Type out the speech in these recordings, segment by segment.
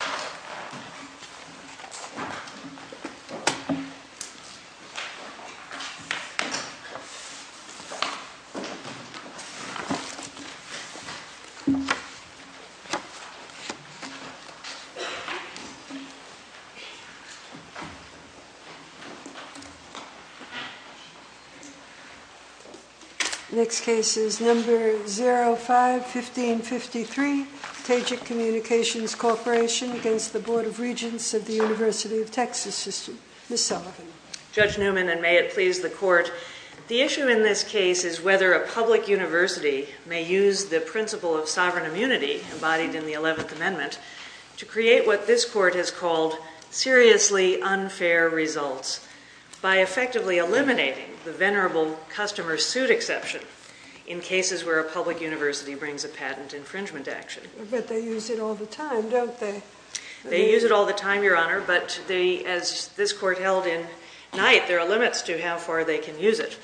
05-1553 Tegic Communications Corporation 05-1553 Tegic Communications Corporation The issue in this case is whether a public university may use the principle of sovereign immunity embodied in the Eleventh Amendment to create what this Court has called seriously unfair results by effectively eliminating the venerable customer-suit exception in cases where a public university brings a patent infringement action. But they use it all the time, don't they? They use it all the time, Your Honor, but as this Court held in Knight, there are limits to how far they can use it.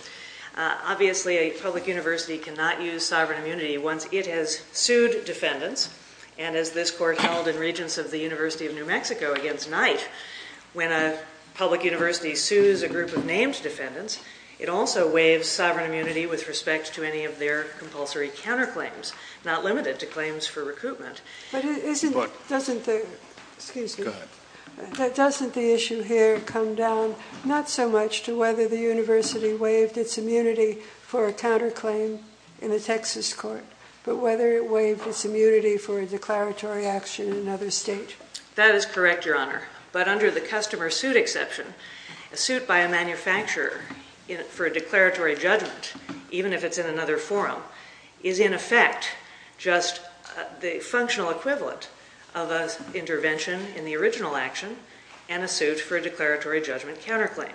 Obviously a public university cannot use sovereign immunity once it has sued defendants, and as this Court held in Regents of the University of New Mexico against Knight, when a public university sues a group of named defendants, it also waives sovereign immunity with respect to any of their compulsory counterclaims, not limited to claims for recruitment. But doesn't the issue here come down not so much to whether the university waived its immunity for a counterclaim in a Texas court, but whether it waived its immunity for a declaratory action in another state? That is correct, Your Honor. But under the customer-suit exception, a suit by a manufacturer for a declaratory judgment, even if it's in another forum, is in effect just the functional equivalent of an intervention in the original action and a suit for a declaratory judgment counterclaim.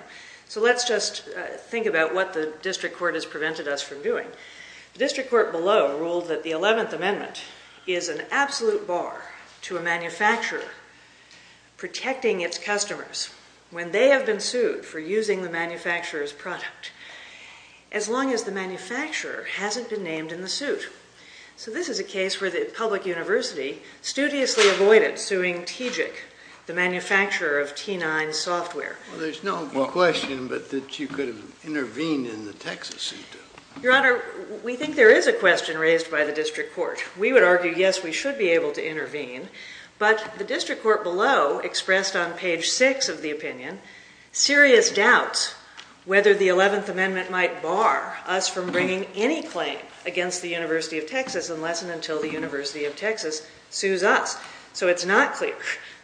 So let's just think about what the district court has prevented us from doing. The district court below ruled that the Eleventh Amendment is an absolute bar to a manufacturer protecting its customers when they have been sued for using the manufacturer's product. As long as the manufacturer hasn't been named in the suit. So this is a case where the public university studiously avoided suing TGIC, the manufacturer of T9 software. Well, there's no question but that you could have intervened in the Texas suit. Your Honor, we think there is a question raised by the district court. We would argue, yes, we should be able to intervene, but the district court below expressed on page six of the opinion serious doubts whether the Eleventh Amendment might bar us from bringing any claim against the University of Texas unless and until the University of Texas sues us. So it's not clear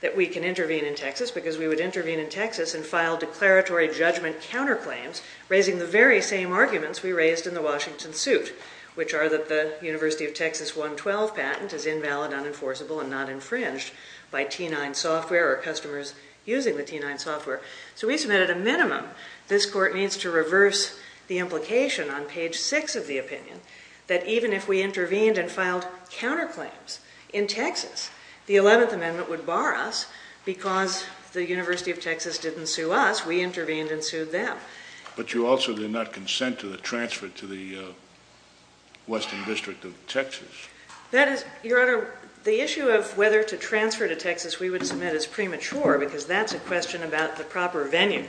that we can intervene in Texas because we would intervene in Texas and file declaratory judgment counterclaims raising the very same arguments we raised in the Washington suit, which are that the University of Texas 112 patent is invalid, unenforceable, and not infringed by T9 software or customers using the T9 software. So we submit at a minimum this court needs to reverse the implication on page six of the opinion that even if we intervened and filed counterclaims in Texas, the Eleventh Amendment would bar us because the University of Texas didn't sue us, we intervened and sued them. But you also did not consent to the transfer to the Western District of Texas. That is, Your Honor, the issue of whether to transfer to Texas we would submit is premature because that's a question about the proper venue.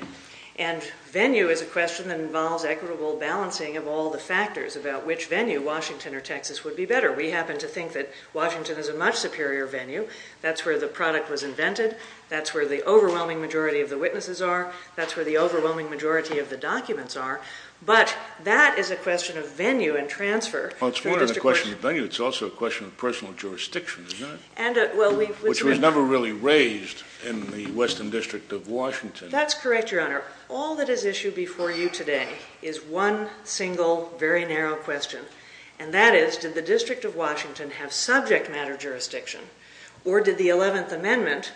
And venue is a question that involves equitable balancing of all the factors about which venue, Washington or Texas, would be better. We happen to think that Washington is a much superior venue. That's where the product was invented. That's where the overwhelming majority of the witnesses are. That's where the overwhelming majority of the documents are. But that is a question of venue and transfer. Well, it's more than a question of venue. It's also a question of personal jurisdiction, isn't it? Which was never really raised in the Western District of Washington. That's correct, Your Honor. All that is issued before you today is one single, very narrow question. And that is, did the District of Washington have subject matter jurisdiction? Or did the Eleventh Amendment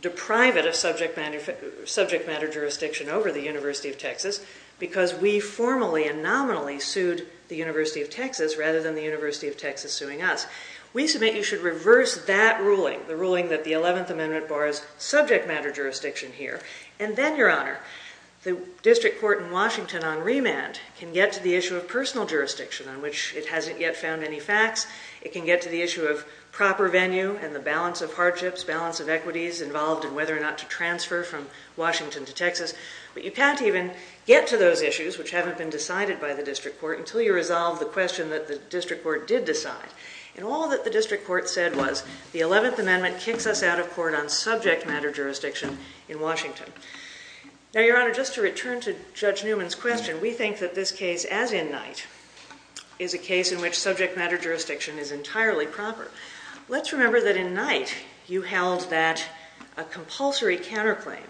deprive it of subject matter jurisdiction over the University of Texas because we formally and nominally sued the University of Texas rather than the University of Texas suing us? We submit you should reverse that ruling, the ruling that the Eleventh Amendment borrows subject matter jurisdiction here. And then, Your Honor, the District Court in Washington on remand can get to the issue of personal jurisdiction on which it hasn't yet found any facts. It can get to the issue of proper venue and the balance of hardships, balance of equities involved in whether or not to transfer from Washington to Texas. But you can't even get to those issues, which haven't been decided by the District Court, until you resolve the question that the District Court did decide. And all that the District Court said was, the Eleventh Amendment kicks us out of court on subject matter jurisdiction in Washington. Now, Your Honor, just to return to Judge Newman's question, we think that this case, as in Knight, is a case in which subject matter jurisdiction is entirely proper. Let's remember that in Knight, you held that a compulsory counterclaim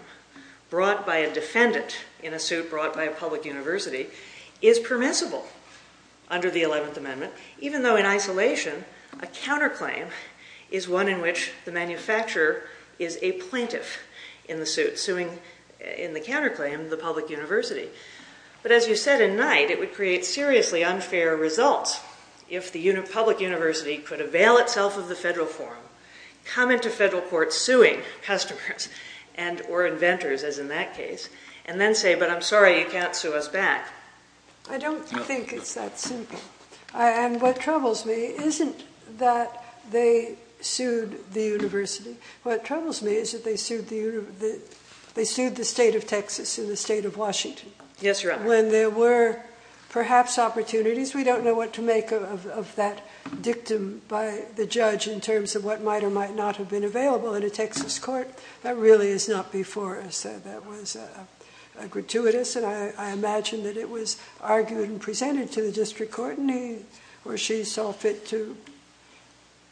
brought by a defendant in a suit brought by a public university is permissible under the Eleventh Amendment, even though in isolation, a counterclaim is one in which the manufacturer is a plaintiff in the suit, suing in the counterclaim the public university. But as you said in Knight, it would create seriously unfair results if the public university could avail itself of the federal forum, come into federal court suing customers and or inventors, as in that case, and then say, but I'm sorry, you can't sue us back. I don't think it's that simple. And what troubles me isn't that they sued the university. What troubles me is that they sued the state of Texas and the state of Washington. Yes, Your Honor. When there were perhaps opportunities, we don't know what to make of that dictum by the judge in terms of what might or might not have been available in a Texas court. That really is not before us. That was gratuitous. And I imagine that it was argued and presented to the district court and he or she saw fit to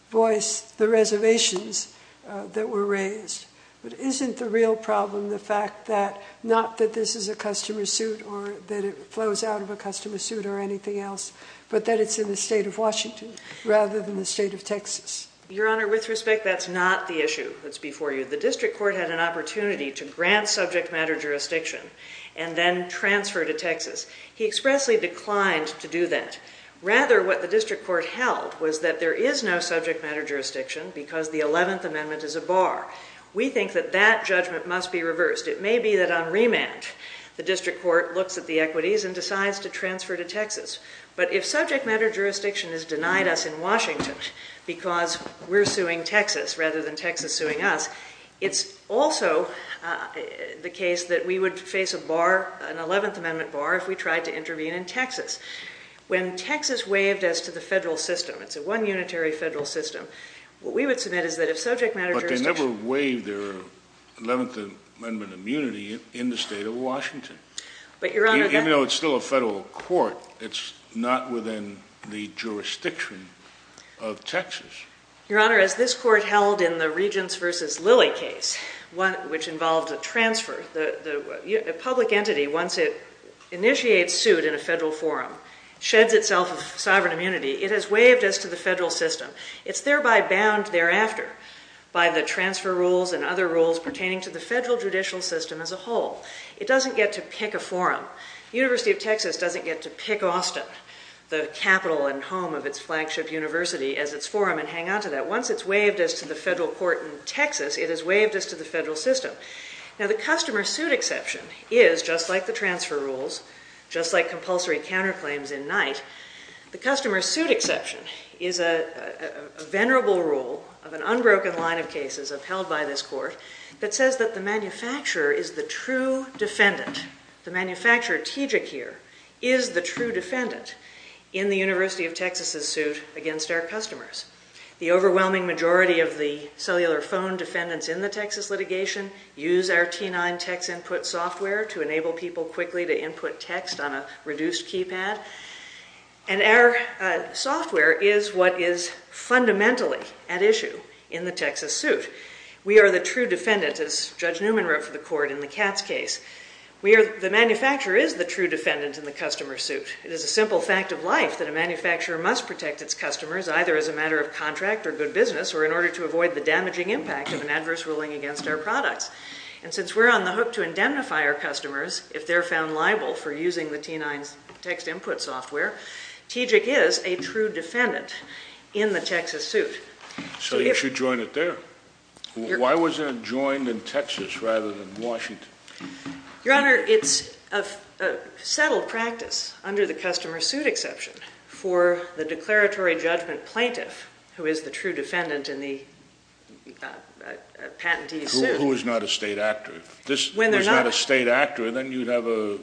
voice the reservations that were raised. But isn't the real problem the fact that not that this is a customer suit or that it flows out of a customer suit or anything else, but that it's in the state of Washington, rather than the state of Texas? Your Honor, with respect, that's not the issue that's before you. The district court had an opportunity to grant subject matter jurisdiction and then transfer to Texas. He expressly declined to do that. Rather, what the district court held was that there is no subject matter jurisdiction because the 11th Amendment is a bar. We think that that judgment must be reversed. It may be that on remand, the district court looks at the equities and decides to transfer to Texas. But if subject matter jurisdiction is denied us in Washington because we're suing Texas rather than Texas suing us, it's also the case that we would face a bar, an 11th Amendment bar, if we tried to intervene in Texas. When Texas waived us to the federal system, it's a one unitary federal system, what we would submit is that if subject matter jurisdiction But they never waived their 11th Amendment immunity in the state of Washington. Even though it's still a federal court, it's not within the jurisdiction of Texas. Your Honor, as this court held in the Regents versus Lilly case, which involved a transfer, a public entity, once it initiates suit in a federal forum, sheds itself of sovereign immunity, it has waived us to the federal system. It's thereby bound thereafter by the transfer rules and other rules pertaining to the federal judicial system as a whole. It doesn't get to pick a forum. The University of Texas doesn't get to pick Austin, the capital and home of its flagship university, as its forum and hang on to that. Once it's waived us to the federal court in Texas, it has waived us to the federal system. Now the customer suit exception is, just like the transfer rules, just like compulsory counterclaims in Knight, the customer suit exception is a venerable rule of an unbroken line of cases upheld by this court that says that the manufacturer is the true defendant. The manufacturer, T. Jekir, is the true defendant in the University of Texas' suit against our customers. The overwhelming majority of the cellular phone defendants in the Texas litigation use our T9 text input software to enable people quickly to input text on a reduced keypad. And our software is what is fundamentally at issue in the Texas suit. We are the true defendant, as Judge Newman wrote for the court in the Katz case. We are, the manufacturer is the true defendant in the customer suit. It is a simple fact of life that a manufacturer must protect its customers, either as a matter of contract or good business, or in order to avoid the damaging impact of an adverse ruling against our products. And since we're on the hook to indemnify our customers, if they're found liable for using the T9 text input software, T. Jekir is a true defendant in the Texas suit. So you should join it there. Why wasn't it joined in Texas rather than Washington? Your Honor, it's a settled practice under the customer suit exception for the declaratory judgment plaintiff, who is the true defendant in the patentee's suit. Who is not a state actor. If this was not a state actor, then you'd have a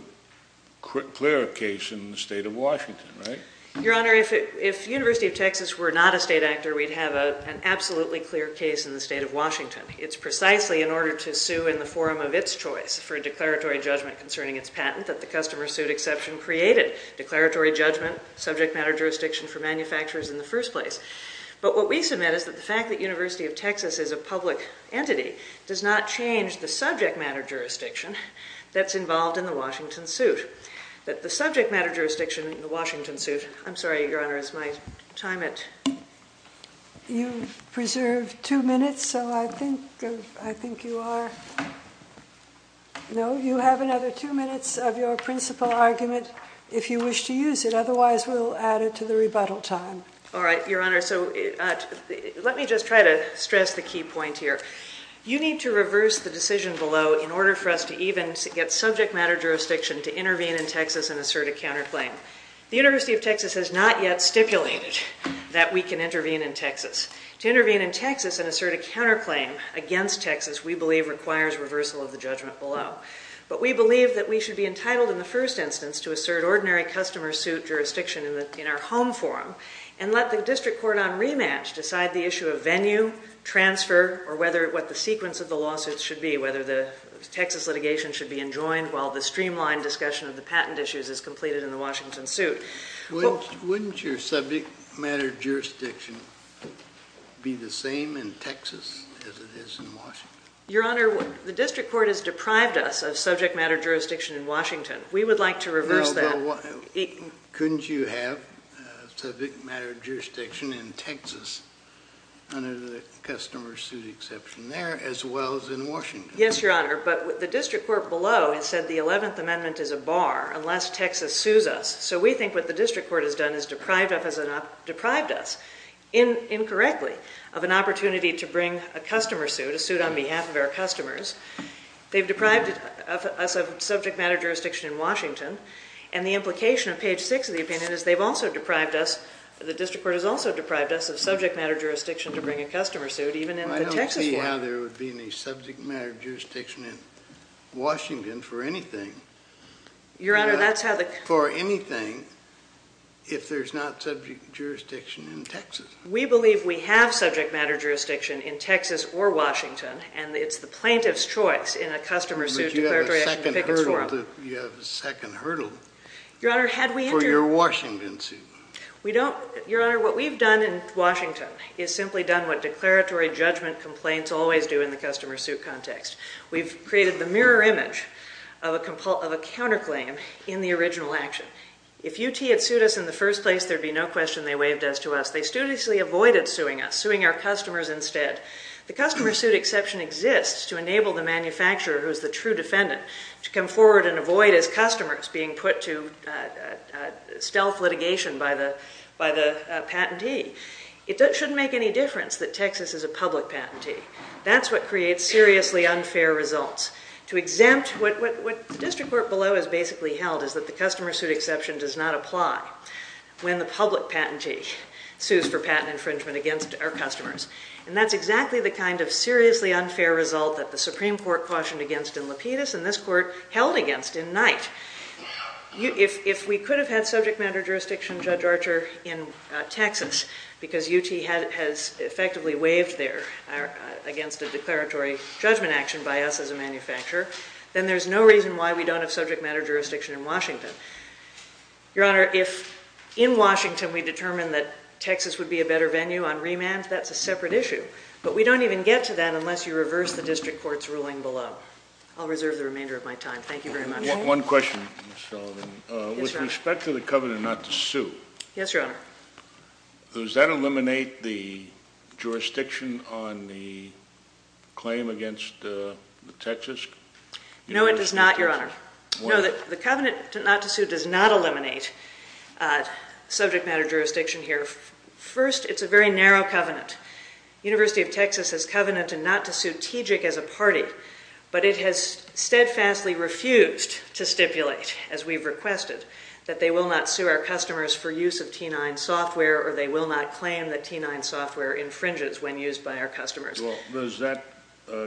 clear case in the state of Washington, right? Your Honor, if University of Texas were not a state actor, we'd have an absolutely clear case in the state of Washington. It's precisely in order to sue in the form of its choice for a declaratory judgment concerning its patent that the customer suit exception created declaratory judgment subject matter jurisdiction for manufacturers in the first place. But what we submit is that the fact that University of Texas is a public entity does not change the subject matter jurisdiction that's involved in the Washington suit. The subject matter jurisdiction in the Washington suit. I'm sorry, Your Honor, is my time at? You've preserved two minutes, so I think you are, no, you have another two minutes of your principal argument if you wish to use it. Otherwise, we'll add it to the rebuttal time. All right, Your Honor, so let me just try to stress the key point here. You need to reverse the decision below in order for us to even get subject matter jurisdiction to intervene in Texas and assert a counterclaim. The University of Texas has not yet stipulated that we can intervene in Texas. To intervene in Texas and assert a counterclaim against Texas, we believe requires reversal of the judgment below. But we believe that we should be entitled in the first instance to assert ordinary customer suit jurisdiction in our home forum and let the district court on rematch decide the issue of venue, transfer, or whether what the sequence of the lawsuits should be, whether the Texas litigation should be enjoined while the streamlined discussion of the patent issues is completed in the Washington suit. Wouldn't your subject matter jurisdiction be the same in Texas as it is in Washington? Your Honor, the district court has deprived us of subject matter jurisdiction in Washington. We would like to reverse that. Couldn't you have subject matter jurisdiction in Texas under the customer suit exception there as well as in Washington? Yes, Your Honor, but the district court below has said the 11th Amendment is a bar, unless Texas sues us, so we think what the district court has done is deprived us, incorrectly, of an opportunity to bring a customer suit, a suit on behalf of our customers. They've deprived us of subject matter jurisdiction in Washington, and the implication of page 6 of the opinion is they've also deprived us, the district court has also deprived us of subject matter jurisdiction to bring a customer suit even in the Texas one. Now, there would be any subject matter jurisdiction in Washington for anything. Your Honor, that's how the. For anything, if there's not subject jurisdiction in Texas. We believe we have subject matter jurisdiction in Texas or Washington, and it's the plaintiff's choice in a customer suit declaratory action pickets forum. But you have a second hurdle for your Washington suit. Your Honor, what we've done in Washington is simply done what declaratory judgment complaints always do in the customer suit context. We've created the mirror image of a counterclaim in the original action. If UT had sued us in the first place, there'd be no question they waived us to us. They studiously avoided suing us, suing our customers instead. The customer suit exception exists to enable the manufacturer who's the true defendant to come forward and avoid his customers being put to stealth litigation by the patentee. It shouldn't make any difference that Texas is a public patentee. That's what creates seriously unfair results. To exempt, what district court below has basically held is that the customer suit exception does not apply when the public patentee sues for patent infringement against our customers. And that's exactly the kind of seriously unfair result that the Supreme Court cautioned against in Lapidus and this court held against in Knight. If we could have had subject matter jurisdiction, Judge Archer, in Texas, because UT has effectively waived there against a declaratory judgment action by us as a manufacturer, then there's no reason why we don't have subject matter jurisdiction in Washington. Your Honor, if in Washington we determine that Texas would be a better venue on remand, that's a separate issue. But we don't even get to that unless you reverse the district court's ruling below. I'll reserve the remainder of my time. Thank you very much. One question, Ms. Sullivan. With respect to the covenant not to sue. Yes, Your Honor. Does that eliminate the jurisdiction on the claim against Texas? No, it does not, Your Honor. No, the covenant not to sue does not eliminate subject matter jurisdiction here. First, it's a very narrow covenant. But it has steadfastly refused to stipulate, as we've requested, that they will not sue our customers for use of T9 software or they will not claim that T9 software infringes when used by our customers. Well, does that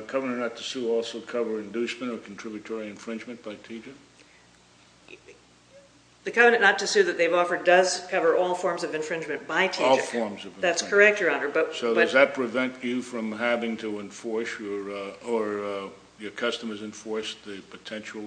covenant not to sue also cover inducement or contributory infringement by teaching? The covenant not to sue that they've offered does cover all forms of infringement by teaching. All forms of infringement. That's correct, Your Honor, but. So does that prevent you from having to enforce or your customers enforce the potential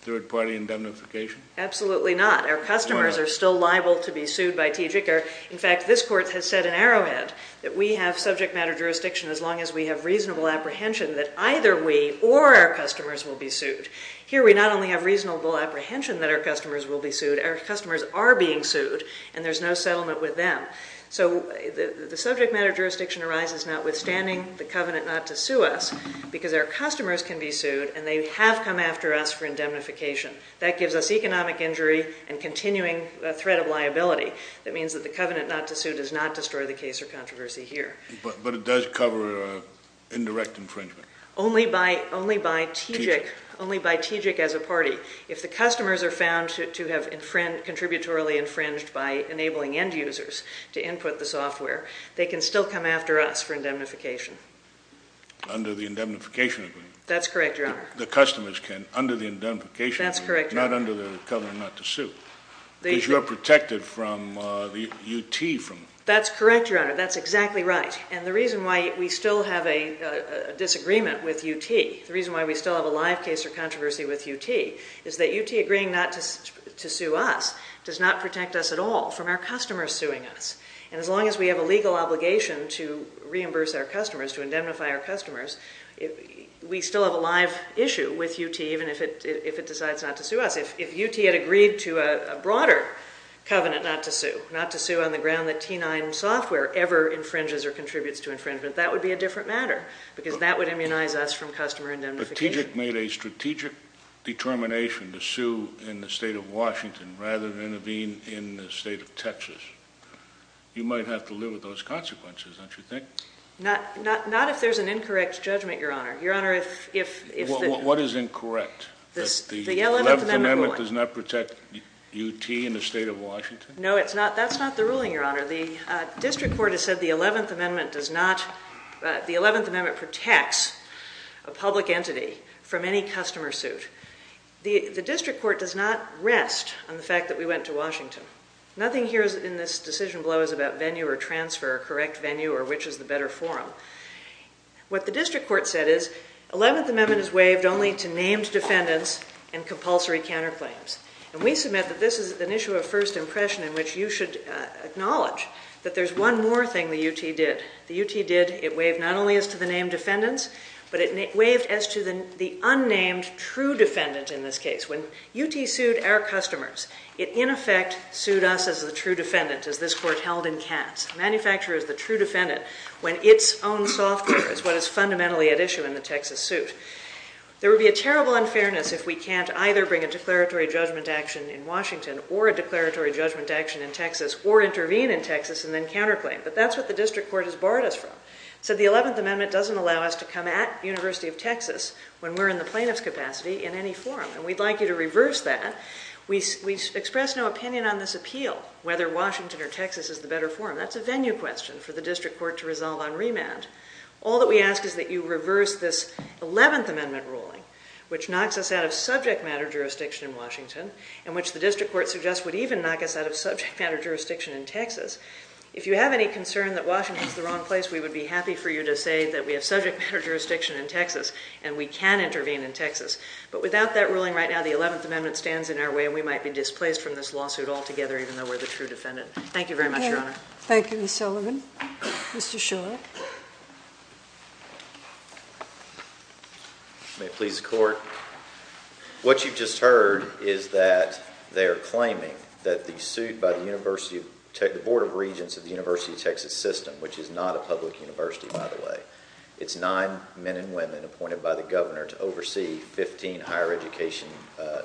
third party indemnification? Absolutely not. Our customers are still liable to be sued by TGCR. In fact, this court has set an arrowhead that we have subject matter jurisdiction as long as we have reasonable apprehension that either we or our customers will be sued. Here, we not only have reasonable apprehension that our customers will be sued, our customers are being sued, and there's no settlement with them. So the subject matter jurisdiction arises notwithstanding the covenant not to sue us because our customers can be sued and they have come after us for indemnification. That gives us economic injury and continuing threat of liability. That means that the covenant not to sue does not destroy the case or controversy here. But it does cover indirect infringement. Only by TGIC as a party. If the customers are found to have contributory infringed by enabling end users, to input the software, they can still come after us for indemnification. Under the indemnification agreement. That's correct, Your Honor. The customers can, under the indemnification agreement. That's correct, Your Honor. Not under the covenant not to sue. Because you're protected from the UT from. That's correct, Your Honor. That's exactly right. And the reason why we still have a disagreement with UT, the reason why we still have a live case or controversy with UT, is that UT agreeing not to sue us does not protect us at all from our customers suing us. And as long as we have a legal obligation to reimburse our customers, to indemnify our customers, we still have a live issue with UT even if it decides not to sue us. If UT had agreed to a broader covenant not to sue, not to sue on the ground that T9 software ever infringes or contributes to infringement, that would be a different matter. Because that would immunize us from customer indemnification. But TGIC made a strategic determination to sue in the state of Washington rather than intervene in the state of Texas. You might have to live with those consequences, don't you think? Not if there's an incorrect judgment, Your Honor. Your Honor, if the. What is incorrect? The 11th Amendment ruling. The 11th Amendment does not protect UT in the state of Washington? No, it's not. That's not the ruling, Your Honor. The district court has said the 11th Amendment does not. The 11th Amendment protects a public entity from any customer suit. The district court does not rest on the fact that we went to Washington. Nothing here in this decision below is about venue or transfer or correct venue or which is the better forum. What the district court said is, 11th Amendment is waived only to named defendants and compulsory counterclaims. And we submit that this is an issue of first impression in which you should acknowledge that there's one more thing the UT did. The UT did, it waived not only as to the named defendants, but it waived as to the unnamed true defendant in this case. When UT sued our customers, it in effect sued us as the true defendant as this court held in Katz. A manufacturer is the true defendant when its own software is what is fundamentally at issue in the Texas suit. There would be a terrible unfairness if we can't either bring a declaratory judgment action in Washington or a declaratory judgment action in Texas or intervene in Texas and then counterclaim, but that's what the district court has barred us from. So the 11th Amendment doesn't allow us to come at University of Texas when we're in the plaintiff's capacity in any forum. And we'd like you to reverse that. We express no opinion on this appeal, whether Washington or Texas is the better forum. That's a venue question for the district court to resolve on remand. All that we ask is that you reverse this 11th Amendment ruling, which knocks us out of subject matter jurisdiction in Washington and which the district court suggests would even knock us out of subject matter jurisdiction in Texas. If you have any concern that Washington's the wrong place, we would be happy for you to say that we have subject matter jurisdiction in Texas and we can intervene in Texas. But without that ruling right now, the 11th Amendment stands in our way. We might be displaced from this lawsuit altogether, even though we're the true defendant. Thank you very much, Your Honor. Thank you, Ms. Sullivan. Mr. Shaw. May it please the court. What you've just heard is that they're claiming that the suit by the University of Texas, the Board of Regents of the University of Texas system, which is not a public university, by the way. It's nine men and women appointed by the governor to oversee 15 higher education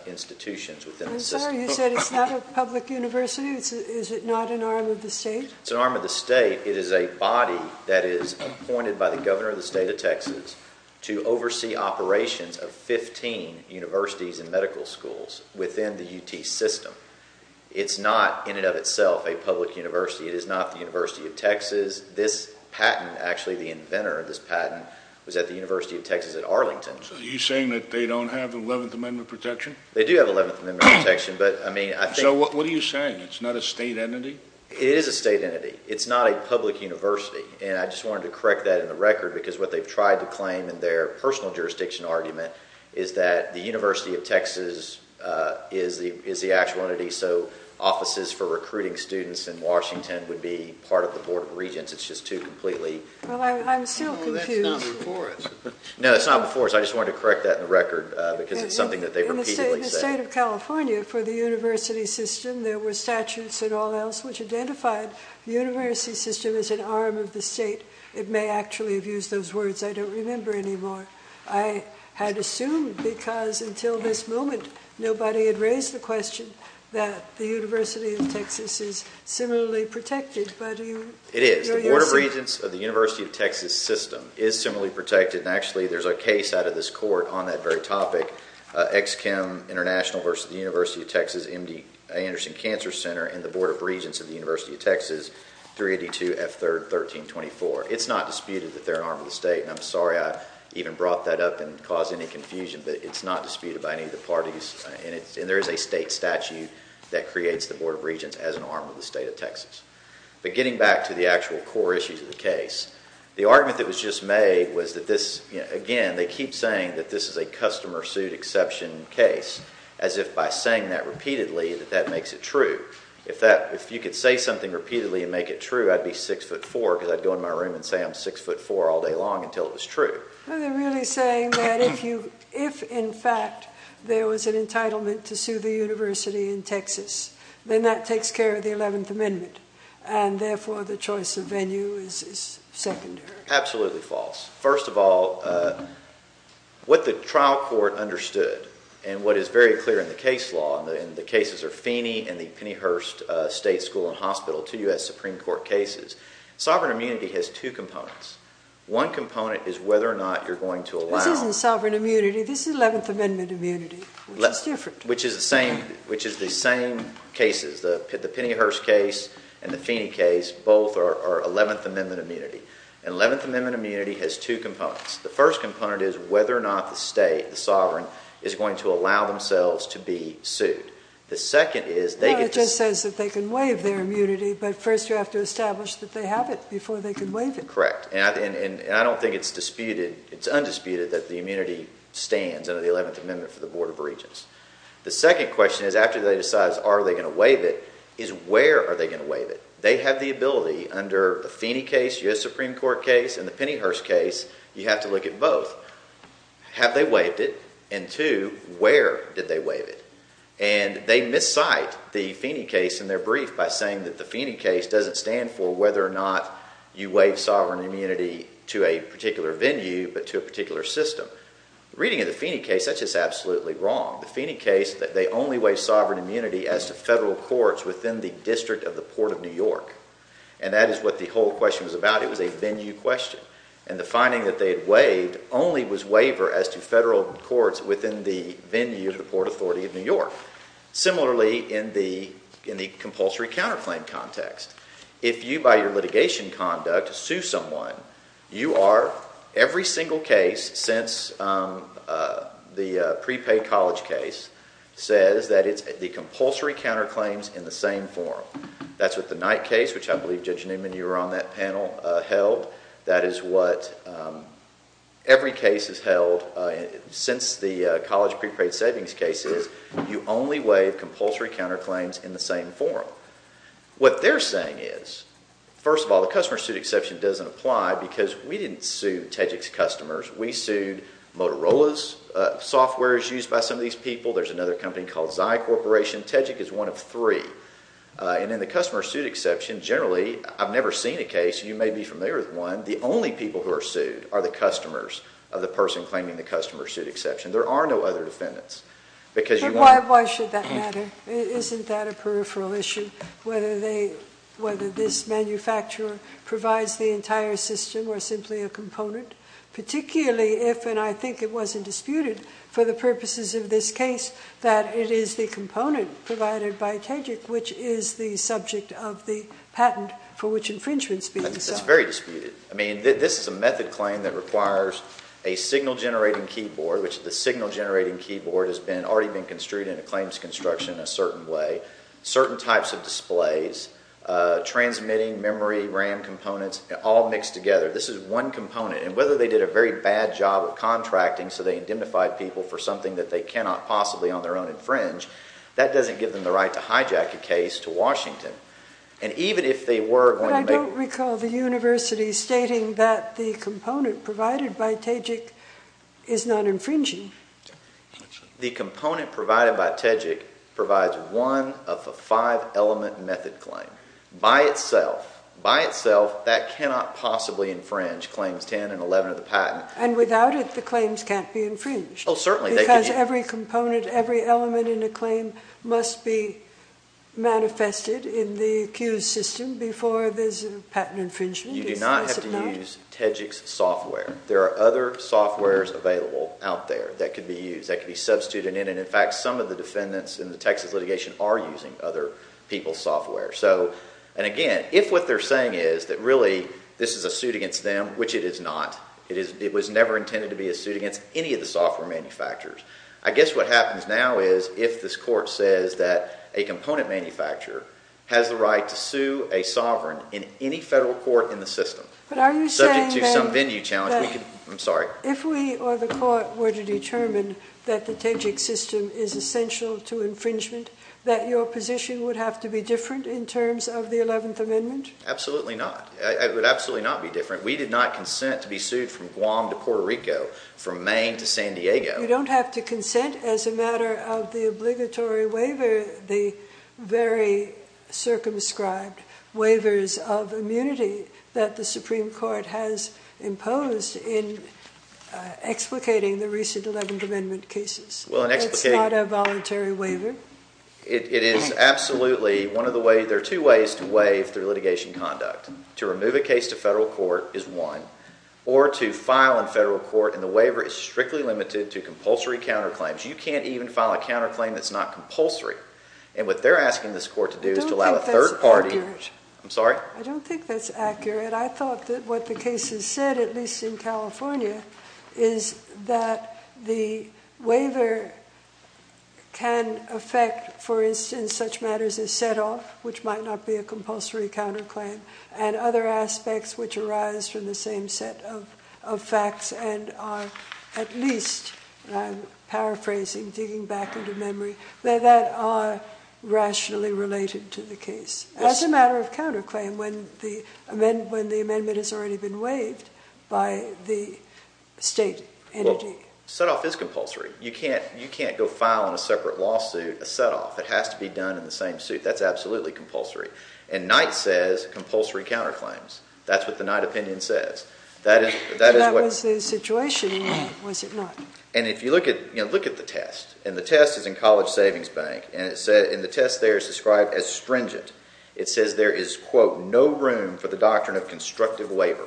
institutions within the system. I'm sorry, you said it's not a public university? Is it not an arm of the state? It's an arm of the state. It is a body that is appointed by the governor of the state of Texas to oversee operations of 15 universities and medical schools within the UT system. It's not, in and of itself, a public university. It is not the University of Texas. This patent, actually, the inventor of this patent was at the University of Texas at Arlington. So you're saying that they don't have 11th Amendment protection? They do have 11th Amendment protection, but, I mean, I think... So what are you saying? It's not a state entity? It is a state entity. It's not a public university. And I just wanted to correct that in the record, because what they've tried to claim in their personal jurisdiction argument is that the University of Texas is the actual entity. So offices for recruiting students in Washington would be part of the Board of Regents. It's just too completely... Well, I'm still confused. Well, that's not before us. No, it's not before us. I just wanted to correct that in the record, because it's something that they've repeatedly said. In the state of California, for the university system, there were statutes and all else which identified the university system as an arm of the state. It may actually have used those words. I don't remember anymore. I had assumed, because until this moment, nobody had raised the question that the University of Texas is similarly protected, but you... It is. The Board of Regents of the University of Texas system is similarly protected. And actually, there's a case out of this court on that very topic, Ex-Chem International versus the University of Texas M.D. Anderson Cancer Center and the Board of Regents of the University of Texas, 382 F. 3rd 1324. It's not disputed that they're an arm of the state. And I'm sorry I even brought that up and caused any confusion, but it's not disputed by any of the parties. And there is a state statute that creates the Board of Regents as an arm of the state of Texas. But getting back to the actual core issues of the case, the argument that was just made was that this, again, they keep saying that this is a customer suit exception case, as if by saying that repeatedly, that that makes it true. If you could say something repeatedly and make it true, I'd be 6'4", because I'd go in my room and say I'm 6'4 all day long until it was true. Well, they're really saying that if you, if in fact, there was an entitlement to sue the university in Texas, then that takes care of the 11th Amendment. And therefore, the choice of venue is secondary. Absolutely false. First of all, what the trial court understood and what is very clear in the case law, and the cases are Feeney and the Pennyhurst State School and Hospital, two U.S. Supreme Court cases, sovereign immunity has two components. One component is whether or not you're going to allow. This isn't sovereign immunity. This is 11th Amendment immunity, which is different. Which is the same, which is the same cases, the Pennyhurst case and the Feeney case, both are 11th Amendment immunity. And 11th Amendment immunity has two components. The first component is whether or not the state, the sovereign, is going to allow themselves to be sued. The second is they get to. It says that they can waive their immunity, but first you have to establish that they have it before they can waive it. Correct. And I don't think it's disputed. It's undisputed that the immunity stands under the 11th Amendment for the Board of Regents. The second question is after they decide, are they going to waive it? Is where are they going to waive it? They have the ability under the Feeney case, U.S. Supreme Court case and the Pennyhurst case. You have to look at both. Have they waived it? And two, where did they waive it? And they miscite the Feeney case in their brief by saying that the Feeney case doesn't stand for whether or not you waive sovereign immunity to a particular venue, but to a particular system. Reading of the Feeney case, that's just absolutely wrong. The Feeney case that they only waive sovereign immunity as to federal courts within the District of the Port of New York. And that is what the whole question was about. It was a venue question. And the finding that they had waived only was waiver as to federal courts within the venue of the Port Authority of New York. Similarly, in the in the compulsory counterclaim context, if you buy your litigation conduct to sue someone, you are every single case since the prepaid college case says that it's the compulsory counterclaims in the same form. That's what the Knight case, which I believe, Judge Newman, you were on that panel held. That is what every case has held since the college prepaid savings cases. You only waive compulsory counterclaims in the same forum. What they're saying is, first of all, the customer suit exception doesn't apply because we didn't sue Tejik's customers. We sued Motorola's software is used by some of these people. There's another company called Zy Corporation. Tejik is one of three. And in the customer suit exception, generally, I've never seen a case. You may be familiar with one. The only people who are sued are the customers of the person claiming the customer suit exception. There are no other defendants because you. Why? Why should that matter? Isn't that a peripheral issue? Whether they whether this manufacturer provides the entire system or simply a component, particularly if and I think it wasn't disputed for the purposes of this case, that it is the component provided by Tejik, which is the subject of the patent for which infringements. It's very disputed. I mean, this is a method claim that requires a signal generating keyboard, which the signal generating keyboard has been already been construed in a claims construction, a certain way, certain types of displays, transmitting memory RAM components all mixed together. This is one component. And whether they did a very bad job of contracting. So they identified people for something that they cannot possibly on their own infringe. That doesn't give them the right to hijack a case to Washington. And even if they were going to recall the university stating that the component provided by Tejik is not infringing the component provided by Tejik provides one of the five element method claim by itself, by itself, that cannot possibly infringe claims 10 and 11 of the patent. And without it, the claims can't be infringed. Oh, certainly. Because every component, every element in a claim must be manifested in the accused system before there's a patent infringement. You do not have to use Tejik's software. There are other softwares available out there that could be used. That could be substituted in. And in fact, some of the defendants in the Texas litigation are using other people's software. So and again, if what they're saying is that really this is a suit against them, which it is not, it is it was never intended to be a suit against any of the software manufacturers. I guess what happens now is if this court says that a component manufacturer has the right to sue a sovereign in any federal court in the system, but are you subject to some venue challenge? I'm sorry. If we or the court were to determine that the Tejik system is essential to infringement, that your position would have to be different in terms of the 11th Amendment. Absolutely not. It would absolutely not be different. We did not consent to be sued from Guam to Puerto Rico, from Maine to San Diego. You don't have to consent as a matter of the obligatory waiver. These are the very circumscribed waivers of immunity that the Supreme Court has imposed in explicating the recent 11th Amendment cases. It's not a voluntary waiver. It is absolutely one of the ways. There are two ways to waive through litigation conduct. To remove a case to federal court is one. Or to file in federal court, and the waiver is strictly limited to compulsory counterclaims. You can't even file a counterclaim that's not compulsory. And what they're asking this court to do is to allow a third party. I don't think that's accurate. I'm sorry? I don't think that's accurate. I thought that what the case has said, at least in California, is that the waiver can affect, for instance, such matters as set-off, which might not be a compulsory counterclaim, and other aspects which arise from the same set of facts and are, at least, and I'm paraphrasing, digging back into memory, that are rationally related to the case. That's a matter of counterclaim when the amendment has already been waived by the state entity. Set-off is compulsory. You can't go file in a separate lawsuit a set-off. It has to be done in the same suit. That's absolutely compulsory. And Knight says, compulsory counterclaims. That's what the Knight opinion says. That was the situation, was it not? And if you look at the test, and the test is in College Savings Bank, and the test there is described as stringent. It says there is, quote, no room for the doctrine of constructive waiver.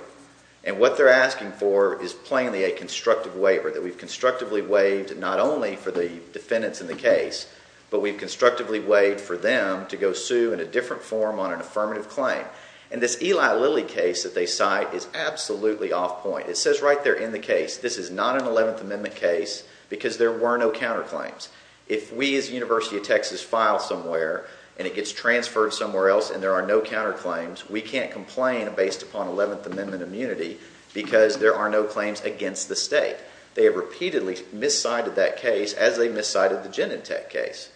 And what they're asking for is plainly a constructive waiver, that we've constructively waived, not only for the defendants in the case, but we've constructively waived for them to go sue in a different form on an affirmative claim. And this Eli Lilly case that they cite is absolutely off point. It says right there in the case, this is not an 11th Amendment case, because there were no counterclaims. If we as University of Texas file somewhere, and it gets transferred somewhere else, and there are no counterclaims, we can't complain based upon 11th Amendment immunity, because there are no claims against the state. They have repeatedly miscited that case as they miscited the Genentech case.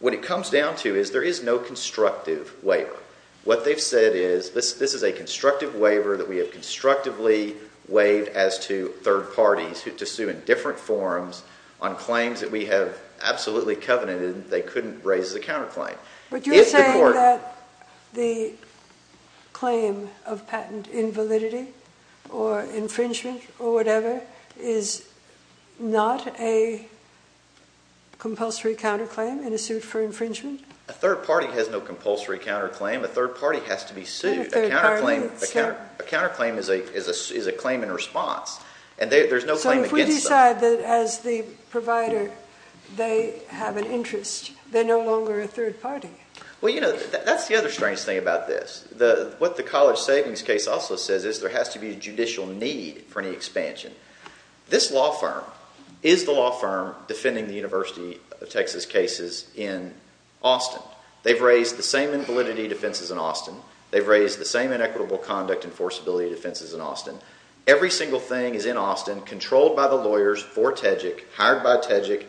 What it comes down to is there is no constructive waiver. What they've said is, this is a constructive waiver that we have constructively waived as to third parties to sue in different forms on claims that we have absolutely covenanted they couldn't raise the counterclaim. But you're saying that the claim of patent invalidity or infringement or whatever is not a compulsory counterclaim in a suit for infringement? A third party has no compulsory counterclaim. A third party has to be sued. A counterclaim is a claim in response. And there's no claim against them. So if we decide that as the provider, they have an interest, they're no longer a third party. Well, that's the other strange thing about this. What the college savings case also says is there has to be a judicial need for any expansion. This law firm is the law firm defending the University of Texas cases in Austin. They've raised the same invalidity defenses in Austin. They've raised the same inequitable conduct enforceability defenses in Austin. Every single thing is in Austin, controlled by the lawyers for TEJIC, hired by TEJIC,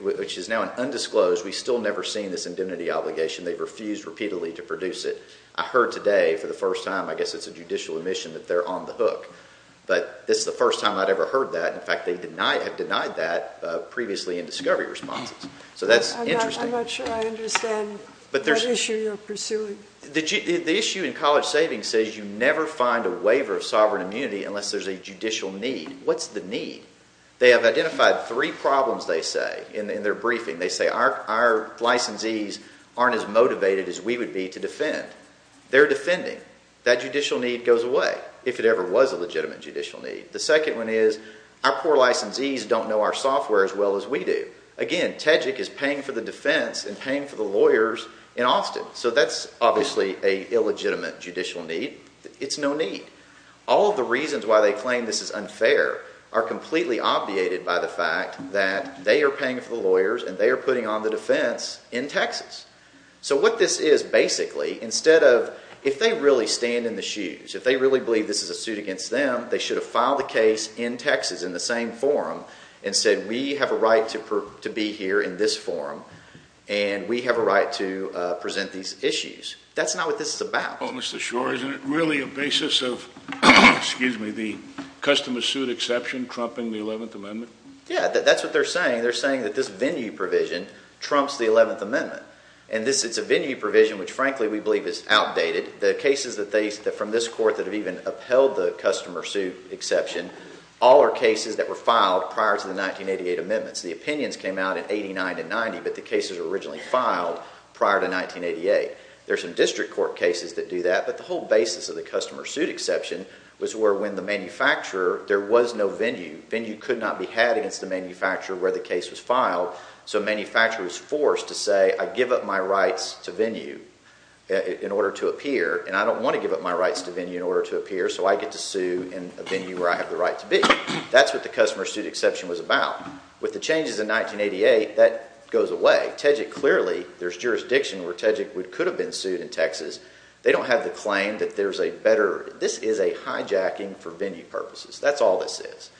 which is now an undisclosed. We've still never seen this indemnity obligation. They've refused repeatedly to produce it. I heard today for the first time, I guess it's a judicial omission that they're on the hook. But this is the first time I'd ever heard that. In fact, they have denied that previously in discovery responses. So that's interesting. I'm not sure I understand that issue you're pursuing. The issue in college savings says you never find a waiver of sovereign immunity unless there's a judicial need. What's the need? They have identified three problems, they say, in their briefing. They say our licensees aren't as motivated as we would be to defend. They're defending. That judicial need goes away, if it ever was a legitimate judicial need. The second one is our poor licensees don't know our software as well as we do. Again, TEJIC is paying for the defense and paying for the lawyers in Austin. So that's obviously a illegitimate judicial need. It's no need. All of the reasons why they claim this is unfair are completely obviated by the fact that they are paying for the lawyers and they are putting on the defense in Texas. So what this is, basically, instead of if they really stand in the shoes, if they really believe this is a suit against them, they should have filed the case in Texas in the same forum and said, we have a right to be here in this forum and we have a right to present these issues. That's not what this is about. Oh, Mr. Schor, isn't it really a basis of the customer suit exception trumping the 11th Amendment? Yeah, that's what they're saying. They're saying that this venue provision trumps the 11th Amendment. And it's a venue provision which, frankly, we believe is outdated. The cases from this court that have even the customer suit exception, all are cases that were filed prior to the 1988 amendments. The opinions came out in 89 to 90, but the cases were originally filed prior to 1988. There's some district court cases that do that. But the whole basis of the customer suit exception was where, when the manufacturer, there was no venue. Venue could not be had against the manufacturer where the case was filed. So a manufacturer was forced to say, I give up my rights to venue in order to appear. And I don't want to give up my rights to venue in order to appear. So I get to sue in a venue where I have the right to be. That's what the customer suit exception was about. With the changes in 1988, that goes away. TEJEC, clearly, there's jurisdiction where TEJEC could have been sued in Texas. They don't have the claim that there's a better. This is a hijacking for venue purposes. That's all this is.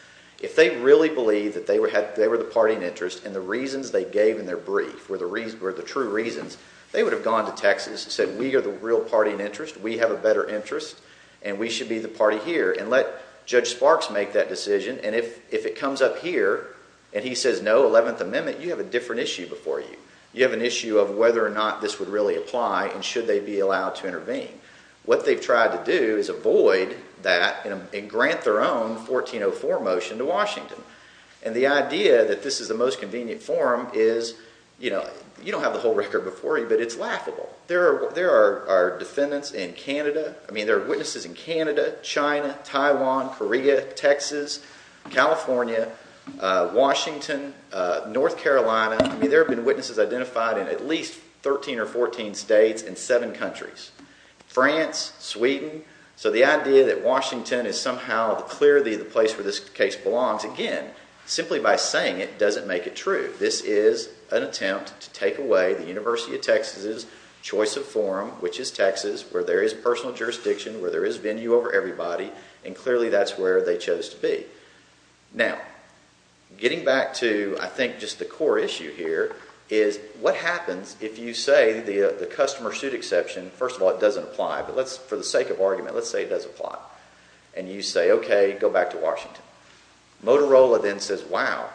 If they really believe that they were the party in interest and the reasons they gave in their brief were the true reasons, they would have gone to Texas and said, we are the real party in interest. We have a better interest. And we should be the party here. And let Judge Sparks make that decision. And if it comes up here and he says, no, 11th Amendment, you have a different issue before you. You have an issue of whether or not this would really apply and should they be allowed to intervene. What they've tried to do is avoid that and grant their own 1404 motion to Washington. And the idea that this is the most convenient form is you don't have the whole record before you, but it's laughable. There are witnesses in Canada, China, Taiwan, Korea, Texas, California, Washington, North Carolina. There have been witnesses identified in at least 13 or 14 states and seven countries. France, Sweden. So the idea that Washington is somehow clearly the place where this case belongs, again, simply by saying it doesn't make it true. This is an attempt to take away the University of Texas' choice of forum, which is Texas, where there is personal jurisdiction, where there is venue over everybody. And clearly, that's where they chose to be. Now, getting back to, I think, just the core issue here is what happens if you say the customer suit exception, first of all, it doesn't apply. But for the sake of argument, let's say it does apply. And you say, OK, go back to Washington. Motorola then says, wow,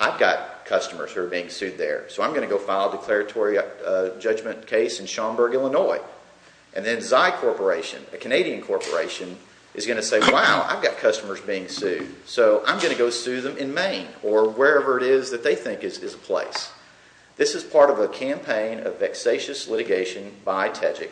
I've got customers who are being sued there. So I'm going to go file a declaratory judgment case in Schaumburg, Illinois. And then Xi Corporation, a Canadian corporation, is going to say, wow, I've got customers being sued. So I'm going to go sue them in Maine, or wherever it is that they think is a place. This is part of a campaign of vexatious litigation by TEJIC.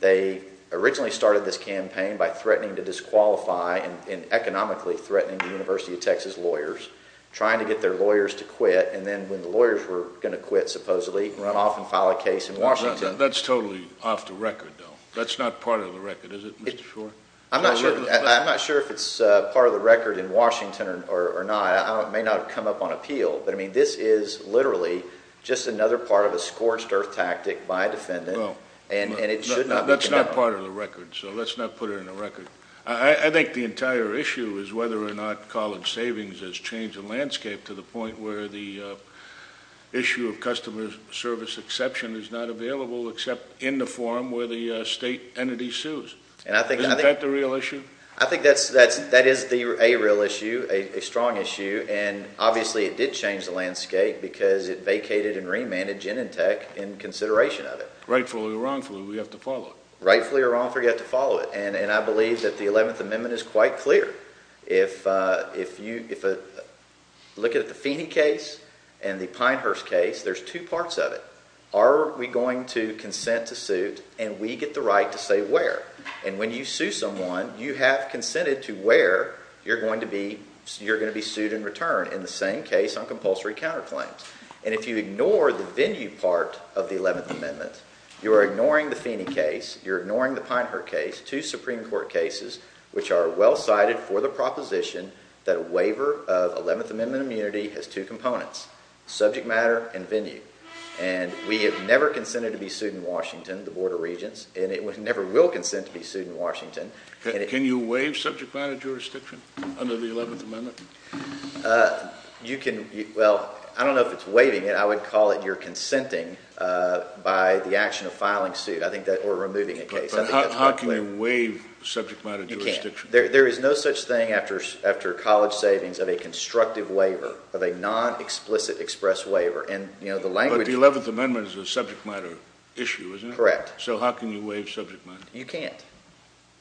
They originally started this campaign by threatening to disqualify and economically threatening the University of Texas lawyers, trying to get their lawyers to quit. And then when the lawyers were going to quit, supposedly, run off and file a case in Washington. That's totally off the record, though. That's not part of the record, is it, Mr. Shor? I'm not sure if it's part of the record in Washington or not. It may not have come up on appeal. But I mean, this is literally just another part of a scorched earth tactic by a defendant. And it should not be. That's not part of the record. So let's not put it on the record. I think the entire issue is whether or not college savings has changed the landscape to the point where the issue of customer service exception is not available, except in the forum where the state entity sues. Isn't that the real issue? I think that is a real issue, a strong issue. And obviously, it did change the landscape because it vacated and remanded Genentech in consideration of it. Rightfully or wrongfully, we have to follow it. Rightfully or wrongfully, we have to follow it. And I believe that the 11th Amendment is quite clear. If you look at the Feeney case and the Pinehurst case, there's two parts of it. Are we going to consent to suit? And we get the right to say where. And when you sue someone, you have consented to where you're going to be sued in return, in the same case on compulsory counterclaims. And if you ignore the venue part of the 11th Amendment, you're ignoring the Feeney case, you're ignoring the Pinehurst case, two Supreme Court cases which are well cited for the proposition that a waiver of 11th Amendment immunity has two components, subject matter and venue. And we have never consented to be sued in Washington, the Board of Regents. And it never will consent to be sued in Washington. Can you waive subject matter jurisdiction under the 11th Amendment? Well, I don't know if it's waiving it. I would call it you're consenting by the action of filing suit or removing a case. How can you waive subject matter jurisdiction? There is no such thing after college savings of a constructive waiver, of a non-explicit express waiver. And the language of it. But the 11th Amendment is a subject matter issue, isn't it? Correct. So how can you waive subject matter? You can't.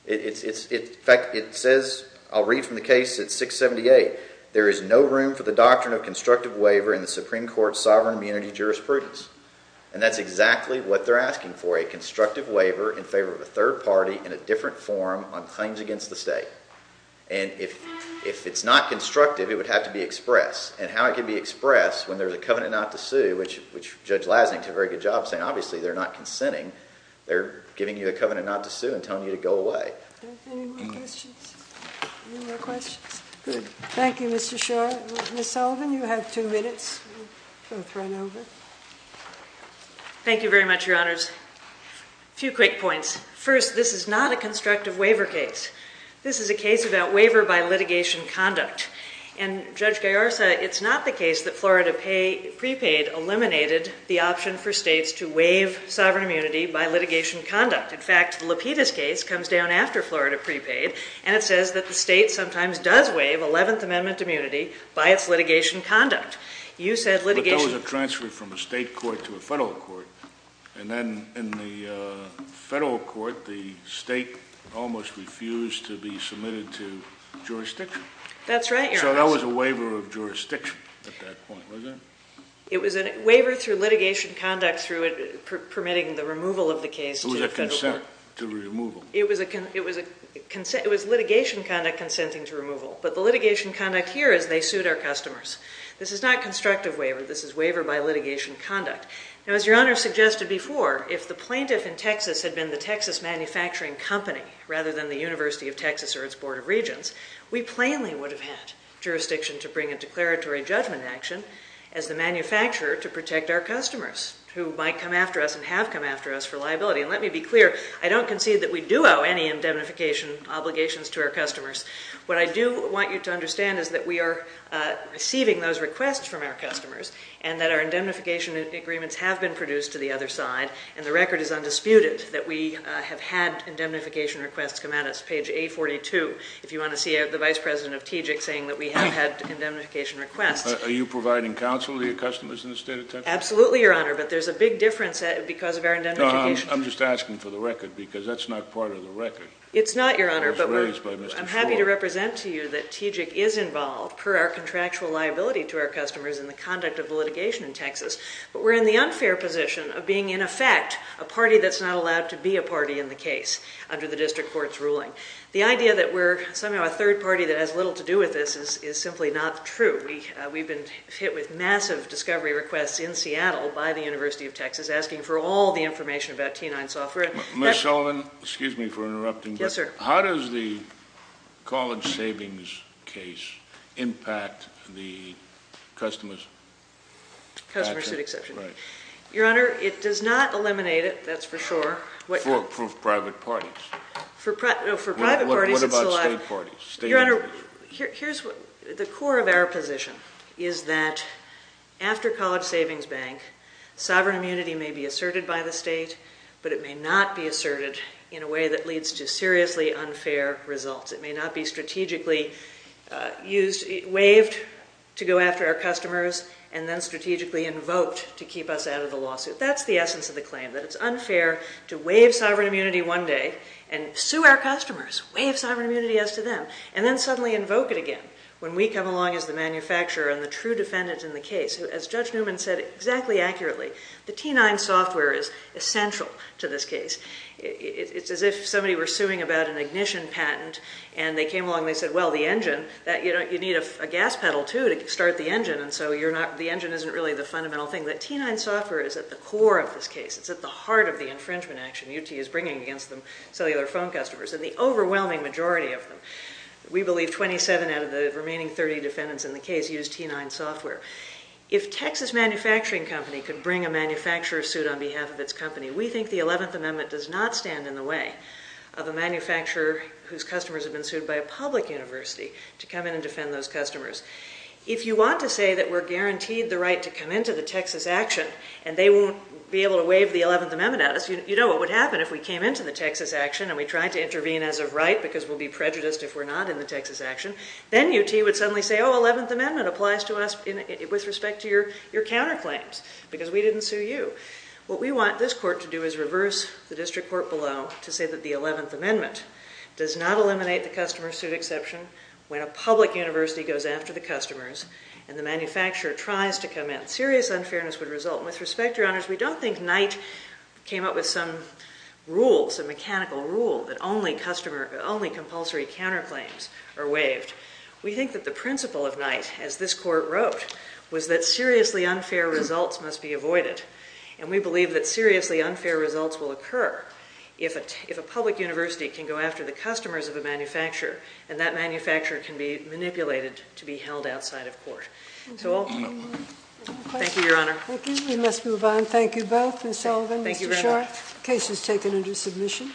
In fact, it says, I'll read from the case. It's 678. There is no room for the doctrine of constructive waiver in the Supreme Court's sovereign immunity jurisprudence. And that's exactly what they're asking for, a constructive waiver in favor of a third party in a different form on claims against the state. And if it's not constructive, it would have to be expressed. And how it can be expressed when there's a covenant not to sue, which Judge Lasnik did a very good job of saying, obviously, they're not consenting. They're giving you a covenant not to sue and telling you to go away. Are there any more questions? Any more questions? Good. Thank you, Mr. Schor. Ms. Sullivan, you have two minutes. We'll both run over. Thank you very much, Your Honors. A few quick points. First, this is not a constructive waiver case. This is a case about waiver by litigation conduct. And Judge Gaiarsa, it's not the case that Florida prepaid eliminated the option for states to waive sovereign immunity by litigation conduct. In fact, the Lapidus case comes down after Florida prepaid. And it says that the state sometimes does waive 11th Amendment immunity by its litigation conduct. You said litigation. But that was a transfer from a state court to a federal court. And then in the federal court, the state almost refused to be submitted to jurisdiction. That's right, Your Honor. So that was a waiver of jurisdiction at that point, wasn't it? It was a waiver through litigation conduct through permitting the removal of the case to the federal court. It was a consent to removal. It was litigation conduct consenting to removal. But the litigation conduct here is they sued our customers. This is not constructive waiver. This is waiver by litigation conduct. Now, as Your Honor suggested before, if the plaintiff in Texas had been the Texas Manufacturing Company rather than the University of Texas or its Board of Regents, we plainly would have had jurisdiction to bring a declaratory judgment action as the manufacturer to protect our customers who might come after us and have come after us for liability. And let me be clear. I don't concede that we do owe any indemnification obligations to our customers. What I do want you to understand is that we are receiving those requests from our customers and that our indemnification agreements have been produced to the other side. And the record is undisputed that we have had indemnification requests come out. It's page 842, if you want to see the Vice President of TGIC saying that we have had indemnification requests. Are you providing counsel to your customers in the state of Texas? Absolutely, Your Honor. But there's a big difference because of our indemnification. I'm just asking for the record because that's not part of the record. It's not, Your Honor, but we're happy to represent to you that TGIC is involved, per our contractual liability to our customers in the conduct of litigation in Texas. But we're in the unfair position of being, in effect, a party that's not allowed to be a party in the case under the district court's ruling. The idea that we're somehow a third party that has little to do with this is simply not true. We've been hit with massive discovery requests in Seattle by the University of Texas asking for all the information about T9 software. Ms. Sullivan, excuse me for interrupting. Yes, sir. How does the college savings case impact the customer's patent? Customer suit exception. Your Honor, it does not eliminate it. That's for sure. For private parties. For private parties, it's allowed. What about state parties, state individuals? The core of our position is that after College Savings Bank, sovereign immunity may be asserted by the state, but it may not be asserted in a way that results. It may not be strategically waived to go after our customers, and then strategically invoked to keep us out of the lawsuit. That's the essence of the claim, that it's unfair to waive sovereign immunity one day and sue our customers, waive sovereign immunity as to them, and then suddenly invoke it again when we come along as the manufacturer and the true defendants in the case. As Judge Newman said exactly accurately, the T9 software is essential to this case. It's as if somebody were suing about an ignition patent, and they came along and they said, well, the engine, that you need a gas pedal, too, to start the engine. And so the engine isn't really the fundamental thing. The T9 software is at the core of this case. It's at the heart of the infringement action UT is bringing against them, cellular phone customers, and the overwhelming majority of them. We believe 27 out of the remaining 30 defendants in the case used T9 software. If Texas Manufacturing Company could bring a manufacturer suit on behalf of its company, we think the 11th Amendment does not stand in the way of a manufacturer whose customers have been sued by a public university to come in and defend those customers. If you want to say that we're guaranteed the right to come into the Texas action, and they won't be able to waive the 11th Amendment at us, you know what would happen if we came into the Texas action and we tried to intervene as of right because we'll be prejudiced if we're not in the Texas action. Then UT would suddenly say, oh, 11th Amendment applies to us with respect to your counterclaims because we didn't sue you. What we want this court to do is reverse the district court below to say that the 11th Amendment does not eliminate the customer suit exception when a public university goes after the customers and the manufacturer tries to come in. Serious unfairness would result. With respect, your honors, we don't think Knight came up with some rules, a mechanical rule, that only compulsory counterclaims are waived. We think that the principle of Knight, as this court wrote, was that seriously unfair results must be avoided. And we believe that seriously unfair results will occur if a public university can go after the customers of a manufacturer, and that manufacturer can be manipulated to be held outside of court. So thank you, your honor. Thank you. We must move on. Thank you both, Ms. Sullivan, Mr. Short. Case is taken under submission.